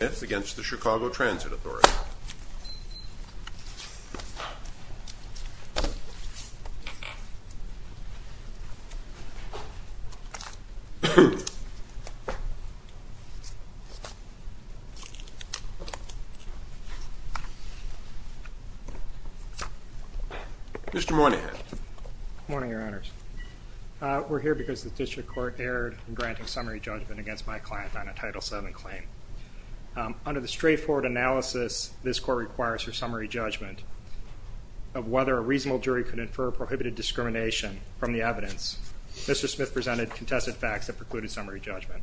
Mr. Moynihan Morning, Your Honors. We're here because the District Court erred in granting summary judgment against my client on a Title VII claim. Under the straightforward analysis this Court requires for summary judgment of whether a reasonable jury could infer prohibited discrimination from the evidence, Mr. Smith presented contested facts that precluded summary judgment.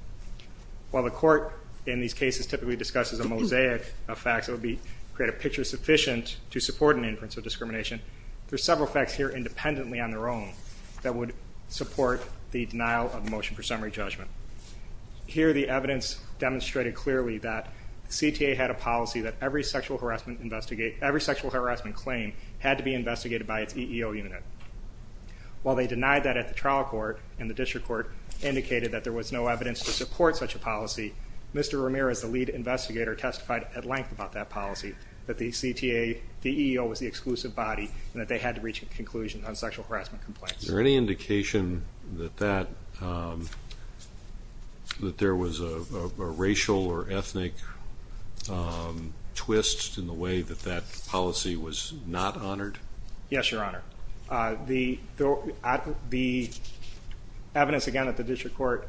While the Court in these cases typically discusses a mosaic of facts that would create a picture sufficient to support an inference of discrimination, there are several facts here independently on their own that would support the denial of motion for summary judgment. Here the evidence demonstrated clearly that CTA had a policy that every sexual harassment investigate every sexual harassment claim had to be investigated by its EEO unit. While they denied that at the trial court and the District Court indicated that there was no evidence to support such a policy, Mr. Ramirez, the lead investigator, testified at length about that policy, that the EEO was the exclusive body and that they had to reach a conclusion on sexual harassment complaints. Is there any indication that there was a racial or ethnic twist in the way that that policy was not honored? Yes, Your Honor. The evidence again that the District Court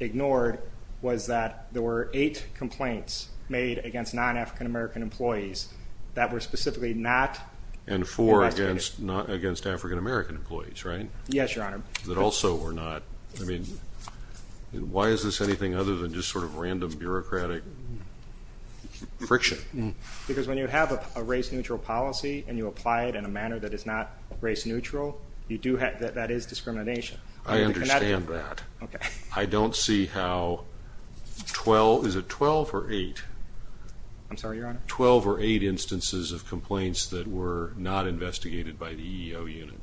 ignored was that there were eight complaints made against non-African American employees that were specifically not. And four against not against African American employees, right? Yes, Your Honor. That also were not, I mean, why is this anything other than just sort of random bureaucratic friction? Because when you have a race neutral policy and you apply it in a manner that is not race neutral, you do have, that is discrimination. I understand that. Okay. I don't see how 12, is it 12 or 8? I'm sorry, Your Honor? 12 or 8 instances of complaints that were not investigated by the EEO unit.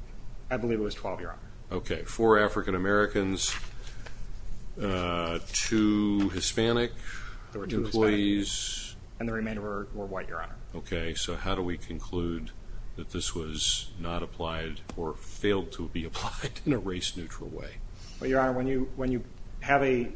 I believe it was 12, Your Honor. Okay. Four African Americans, two Hispanic employees. And the remainder were white, Your Honor. Okay. So how do we conclude that this was not applied or failed to be applied in a race neutral way? Well, Your Honor, when you, when you have a,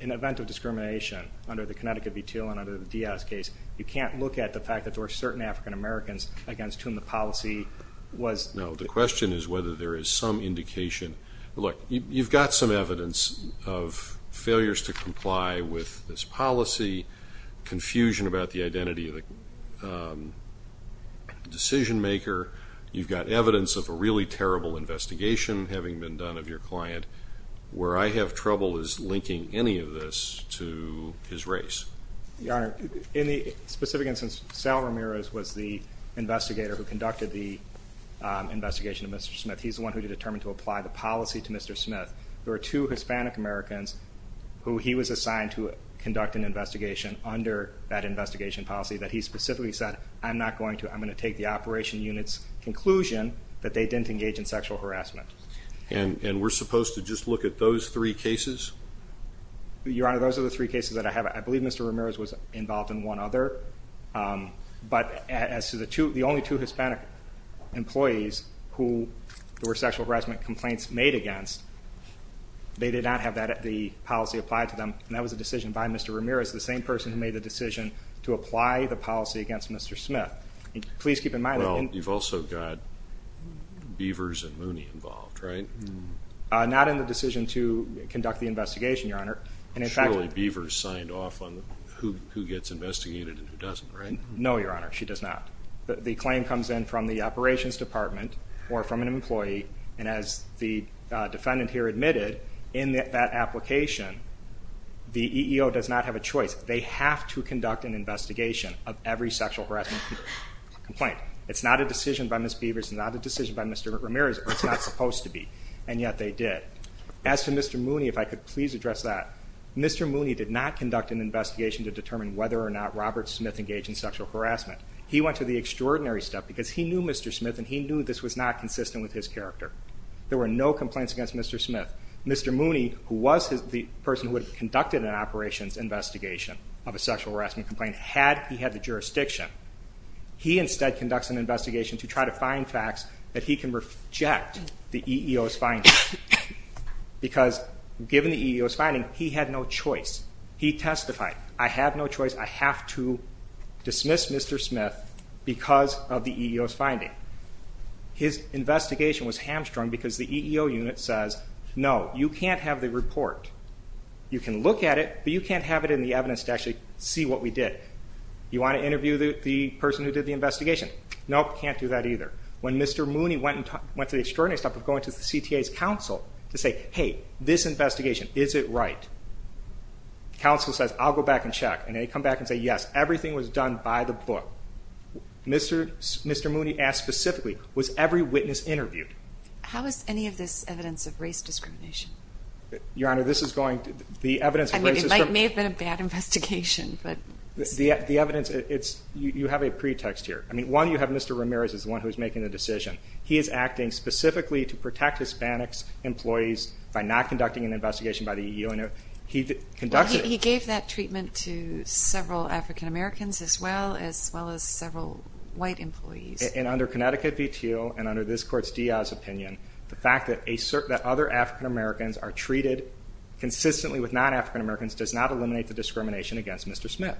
an event of discrimination under the Connecticut v. Teal and under the Diaz case, you can't look at the fact that there were certain African Americans against whom the policy was... No, the question is whether there is some indication. Look, you've got some evidence of failures to comply with this policy, confusion about the identity of the decision maker. You've got evidence of a really terrible investigation having been done of your client. Where I have trouble is linking any of this to his race. Your Honor, in the specific instance, Sal Ramirez was the investigator who conducted the investigation of Mr. Smith. He's the one who determined to apply the policy to Mr. Smith. There were two Hispanic Americans who he was assigned to conduct an investigation under that investigation policy that he specifically said, I'm not going to, I'm going to take the operation unit's conclusion that they didn't engage in sexual harassment. And, and we're supposed to just look at those three cases? Your Honor, those are the three cases that I have. I believe Mr. Ramirez was involved in one other. Um, but as to the two, the only two Hispanic employees who there were sexual harassment complaints made against, they did not have that, the policy applied to them. And that was a decision by Mr. Ramirez, the same person who made the decision to apply the policy against Mr. Smith. Please keep in mind that you've also got Beavers and Mooney involved, right? Not in the decision to conduct the investigation, Your Honor. And in fact, Beavers signed off on who gets investigated and who doesn't, right? No, Your Honor, she does not. The claim comes in from the operations department or from an employee. And as the defendant here admitted, in that application, the EEO does not have a choice. They have to conduct an investigation of every sexual harassment complaint. It's not a decision by Ms. Beavers, it's not a decision by Mr. Ramirez, it's not supposed to be. And yet they did. As to Mr. Mooney, if I could please address that. Mr. Mooney did not conduct an investigation to determine whether or not Robert Smith engaged in sexual harassment. He went to the extraordinary step because he knew Mr. Smith and he knew this was not consistent with his character. There were no complaints against Mr. Smith. Mr. Mooney, who was the person who had conducted an operations investigation of a sexual harassment complaint, had he had the jurisdiction, he instead conducts an investigation to try to find facts that he can reject the EEO's finding. Because given the EEO's finding, he had no choice. He testified, I have no choice, I have to dismiss Mr. Smith because of the EEO's finding. His investigation was hamstrung because the EEO unit says, no, you can't have the report. You can look at it, but you can't have it in the evidence to actually see what we did. You want to interview the person who did the investigation? Nope, can't do that either. When Mr. Mooney went to the extraordinary step of going to the CTA's counsel to say, hey, this investigation, is it right? Counsel says, I'll go back and Mr. Mooney asked specifically, was every witness interviewed? How is any of this evidence of race discrimination? Your Honor, this is going to, the evidence of race is from... I mean, it may have been a bad investigation, but... The evidence, it's, you have a pretext here. I mean, one, you have Mr. Ramirez is the one who's making the decision. He is acting specifically to protect Hispanics employees by not conducting an investigation by the EEO unit. He conducted... As well as several white employees. And under Connecticut v. Teal and under this court's Diaz opinion, the fact that other African Americans are treated consistently with non-African Americans does not eliminate the discrimination against Mr. Smith.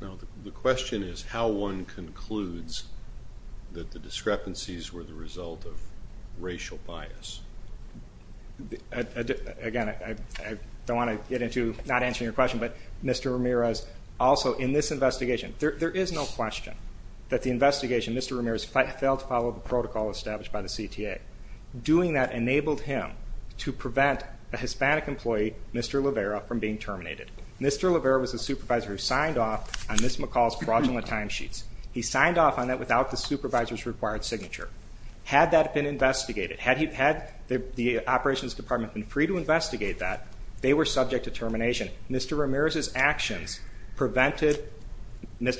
Now, the question is how one concludes that the discrepancies were the result of racial bias. Again, I don't mean this investigation. There is no question that the investigation, Mr. Ramirez failed to follow the protocol established by the CTA. Doing that enabled him to prevent a Hispanic employee, Mr. Levera, from being terminated. Mr. Levera was a supervisor who signed off on Ms. McCall's fraudulent timesheets. He signed off on that without the supervisor's required signature. Had that been investigated, had the operations department been free to Mr.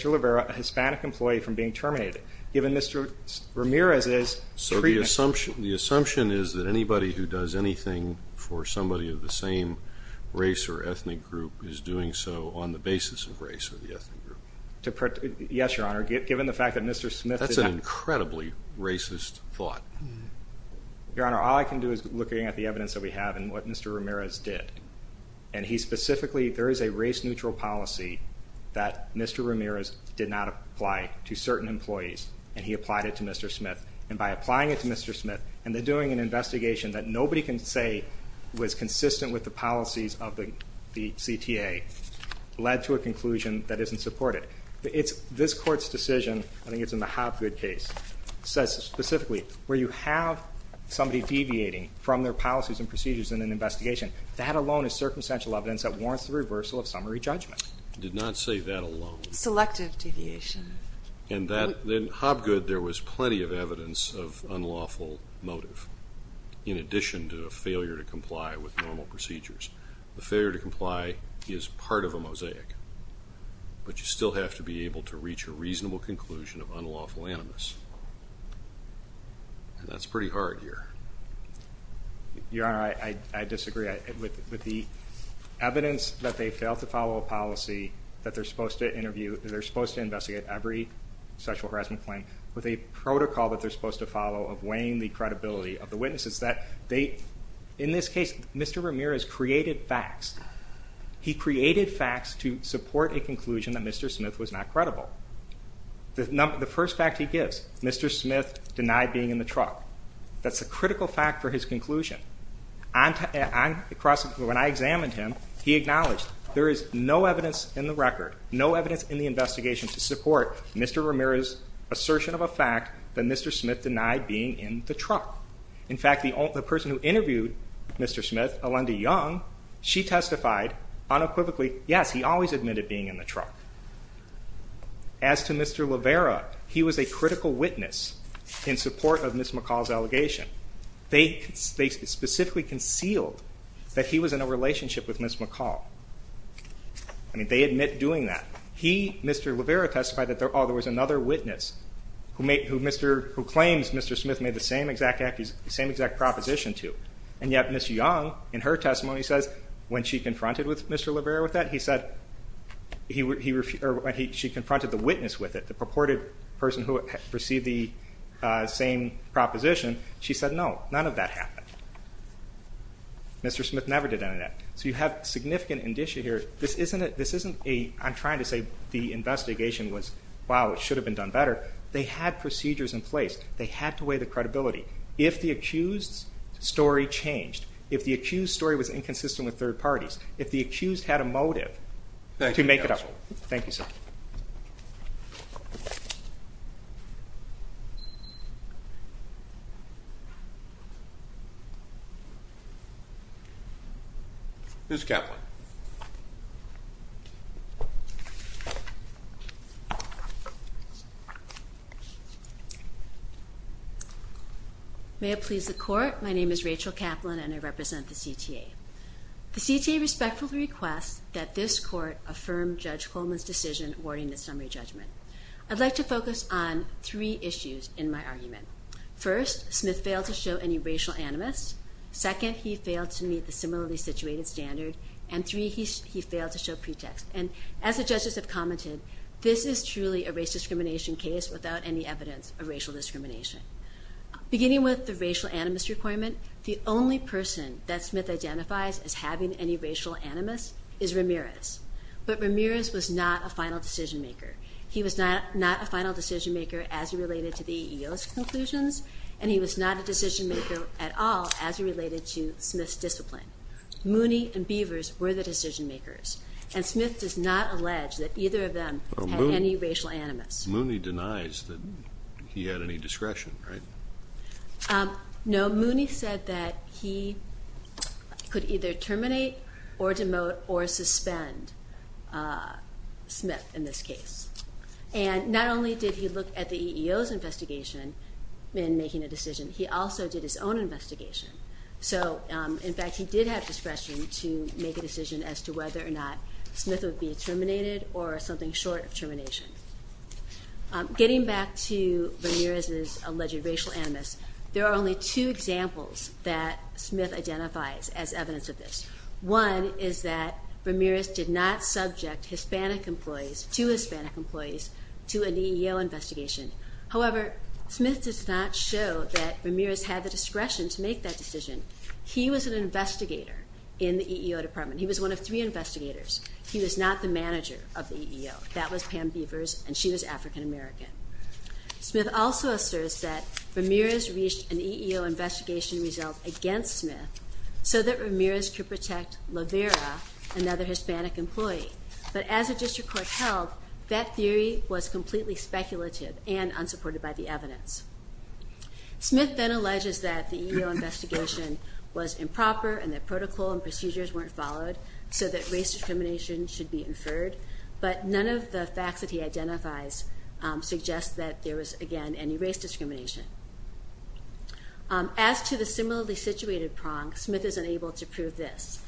Levera, a Hispanic employee, from being terminated, given Mr. Ramirez's treatment... So the assumption is that anybody who does anything for somebody of the same race or ethnic group is doing so on the basis of race or the ethnic group? Yes, Your Honor. Given the fact that Mr. Smith... That's an incredibly racist thought. Your Honor, all I can do is looking at the evidence that we have and what Mr. Ramirez did. And he specifically... There is a race-neutral policy that Mr. Ramirez did not apply to certain employees, and he applied it to Mr. Smith. And by applying it to Mr. Smith and then doing an investigation that nobody can say was consistent with the policies of the CTA, led to a conclusion that isn't supported. This Court's decision, I think it's in the Hobgood case, says specifically, where you have somebody deviating from their policies and procedures in an investigation, that alone is circumstantial evidence that warrants the reversal of summary judgment. Did not say that alone. Selective deviation. And that... In Hobgood, there was plenty of evidence of unlawful motive, in addition to a failure to comply with normal procedures. A failure to comply is part of a mosaic. But you still have to be able to reach a reasonable conclusion of unlawful animus. And that's the evidence that they fail to follow a policy that they're supposed to interview... They're supposed to investigate every sexual harassment claim with a protocol that they're supposed to follow of weighing the credibility of the witnesses. That they... In this case, Mr. Ramirez created facts. He created facts to support a conclusion that Mr. Smith was not credible. The first fact he gives, Mr. Smith denied being in the truck. That's a critical fact for his conclusion. When I examined him, he acknowledged there is no evidence in the record, no evidence in the investigation to support Mr. Ramirez's assertion of a fact that Mr. Smith denied being in the truck. In fact, the person who interviewed Mr. Smith, Alenda Young, she testified unequivocally, yes, he always admitted being in the truck. As to Mr. Levera, he was a critical witness in support of Ms. McCall's allegation. They specifically concealed that he was in a relationship with Ms. McCall. I mean, they admit doing that. He, Mr. Levera, testified that, oh, there was another witness who claims Mr. Smith made the same exact proposition to. And yet Ms. Young, in her testimony, says when she confronted the witness with it, the purported person who perceived the same proposition, she said, no, none of that happened. Mr. Smith never did any of that. So you have significant indicia here. This isn't a, I'm trying to say the investigation was, wow, it should have been done better. They had procedures in place. They had to weigh the credibility. If the accused's story changed, if the accused's story was inconsistent with third parties, if the accused had a motive to make it up. Thank you, counsel. Thank you, sir. Ms. Kaplan. May it please the court. My name is Rachel Kaplan and I represent the CTA. The CTA respectfully requests that this court affirm Judge Coleman's decision awarding the summary judgment. I'd like to focus on three issues in my argument. First, Smith failed to show any racial animus. Second, he failed to meet the similarly situated standard. And three, he failed to show pretext. And as the judges have commented, this is truly a race discrimination case without any evidence of racial discrimination. Beginning with the racial animus requirement, the only person that Smith identifies as having any racial animus is Ramirez. But Ramirez was not a final decision maker. He was not a final decision maker as related to the EEO's conclusions. And he was not a decision maker at all as related to Smith's discipline. Mooney and Beavers were the decision makers. And Smith does not allege that either of them had any racial animus. Mooney denies that he had any discretion, right? No, Mooney said that he could either terminate or demote or suspend Smith in this case. And not only did he look at the EEO's investigation in making a decision, he also did his own investigation. So in fact he did have discretion to make a decision as to whether or not Smith would be terminated or something short of termination. Getting back to Ramirez's alleged racial animus, there are only two examples that Smith identifies as evidence of this. One is that Ramirez did not subject Hispanic employees, two Hispanic employees, to an EEO investigation. However, Smith does not show that Ramirez had the discretion to make that decision. He was an investigator in the EEO department. He was one of three investigators. He was not the manager of the EEO. That was Pam Beavers and she was African American. Smith also asserts that Ramirez reached an EEO investigation result against Smith so that Ramirez could protect Lavera, another Hispanic employee. But as a district court held, that theory was completely speculative and unsupported by the evidence. Smith then alleges that the EEO investigation was improper and that protocol and procedures weren't followed so that race discrimination should be inferred. But none of the facts that he identifies suggest that there was, again, any race discrimination. As to the similarly situated prong, Smith is unable to prove this.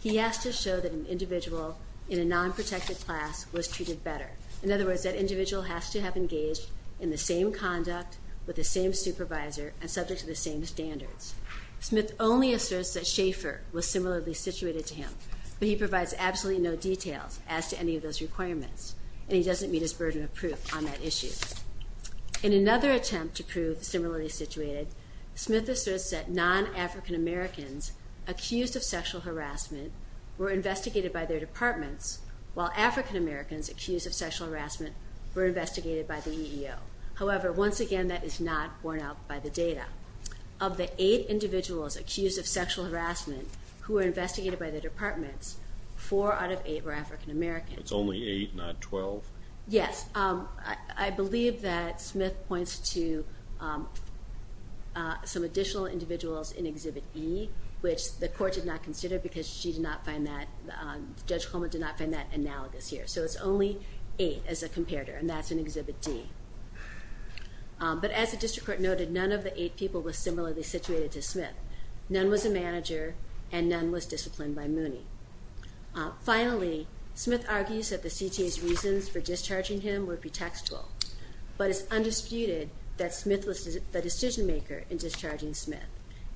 He has to show that an individual in a non-protected class was treated better. In other words, that individual has to have engaged in the same conduct with the same supervisor and subject to the same standards. Smith only asserts that Schaefer was similarly situated to him, but he provides absolutely no details as to any of those requirements and he doesn't meet his burden of proof on that issue. In another attempt to prove similarly situated, Smith asserts that non-African Americans accused of sexual harassment were investigated by their departments while African Americans accused of sexual harassment were investigated by the EEO. However, once again, that is not borne out by the data. Of the eight individuals accused of sexual harassment who were investigated by their departments, four out of eight were African American. It's only eight, not 12? Yes. I believe that Smith points to some additional individuals in Exhibit E, which the court did not consider because Judge Coleman did not find that analogous here. So it's only eight as a comparator and that's in Exhibit D. But as the district court noted, none of the eight people were similarly situated to Smith. None was a manager and none was disciplined by Mooney. Finally, Smith argues that the CTA's reasons for discharging him would be textual, but it's undisputed that Smith was the decision maker in discharging Smith.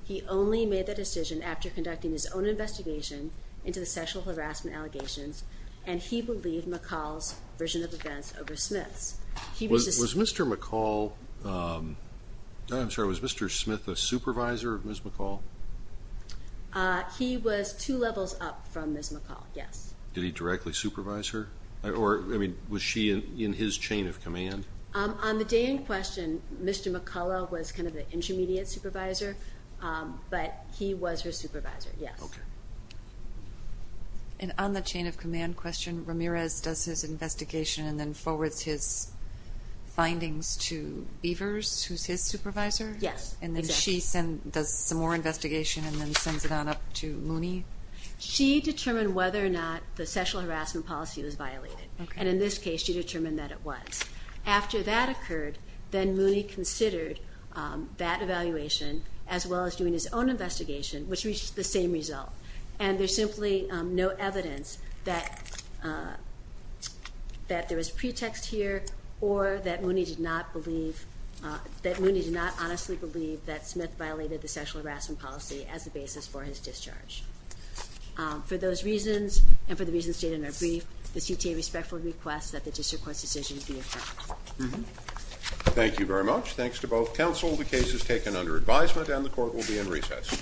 He only made that decision after conducting his own investigation into the sexual harassment allegations and he believed McCall's version of events over Smith's. Was Mr. McCall, I'm sorry, was Mr. Smith a supervisor of Ms. McCall? He was two levels up from Ms. McCall, yes. Did he directly supervise her? Or was she in his chain of command? On the day in question, Mr. McCall was kind of the intermediate supervisor, but he was her supervisor, yes. And on the chain of command question, Ramirez does his investigation and then forwards his findings to Beavers, who's his supervisor? Yes, exactly. And then she does some more investigation and then sends it on up to Mooney? She determined whether or not the sexual harassment policy was violated, and in this case she determined that it was. After that occurred, then Mooney considered that evaluation as well as doing his own investigation, which reached the same result. And there's simply no evidence that there was pretext here or that Mooney did not believe, that Mooney did not honestly believe that Smith violated the sexual harassment policy as the basis for his discharge. For those reasons, and for the reasons stated in our brief, the CTA respectfully requests that the district court's decision be affirmed. Thank you very much. Thanks to both counsel. The case is taken under advisement and the court will be in recess. Thank you.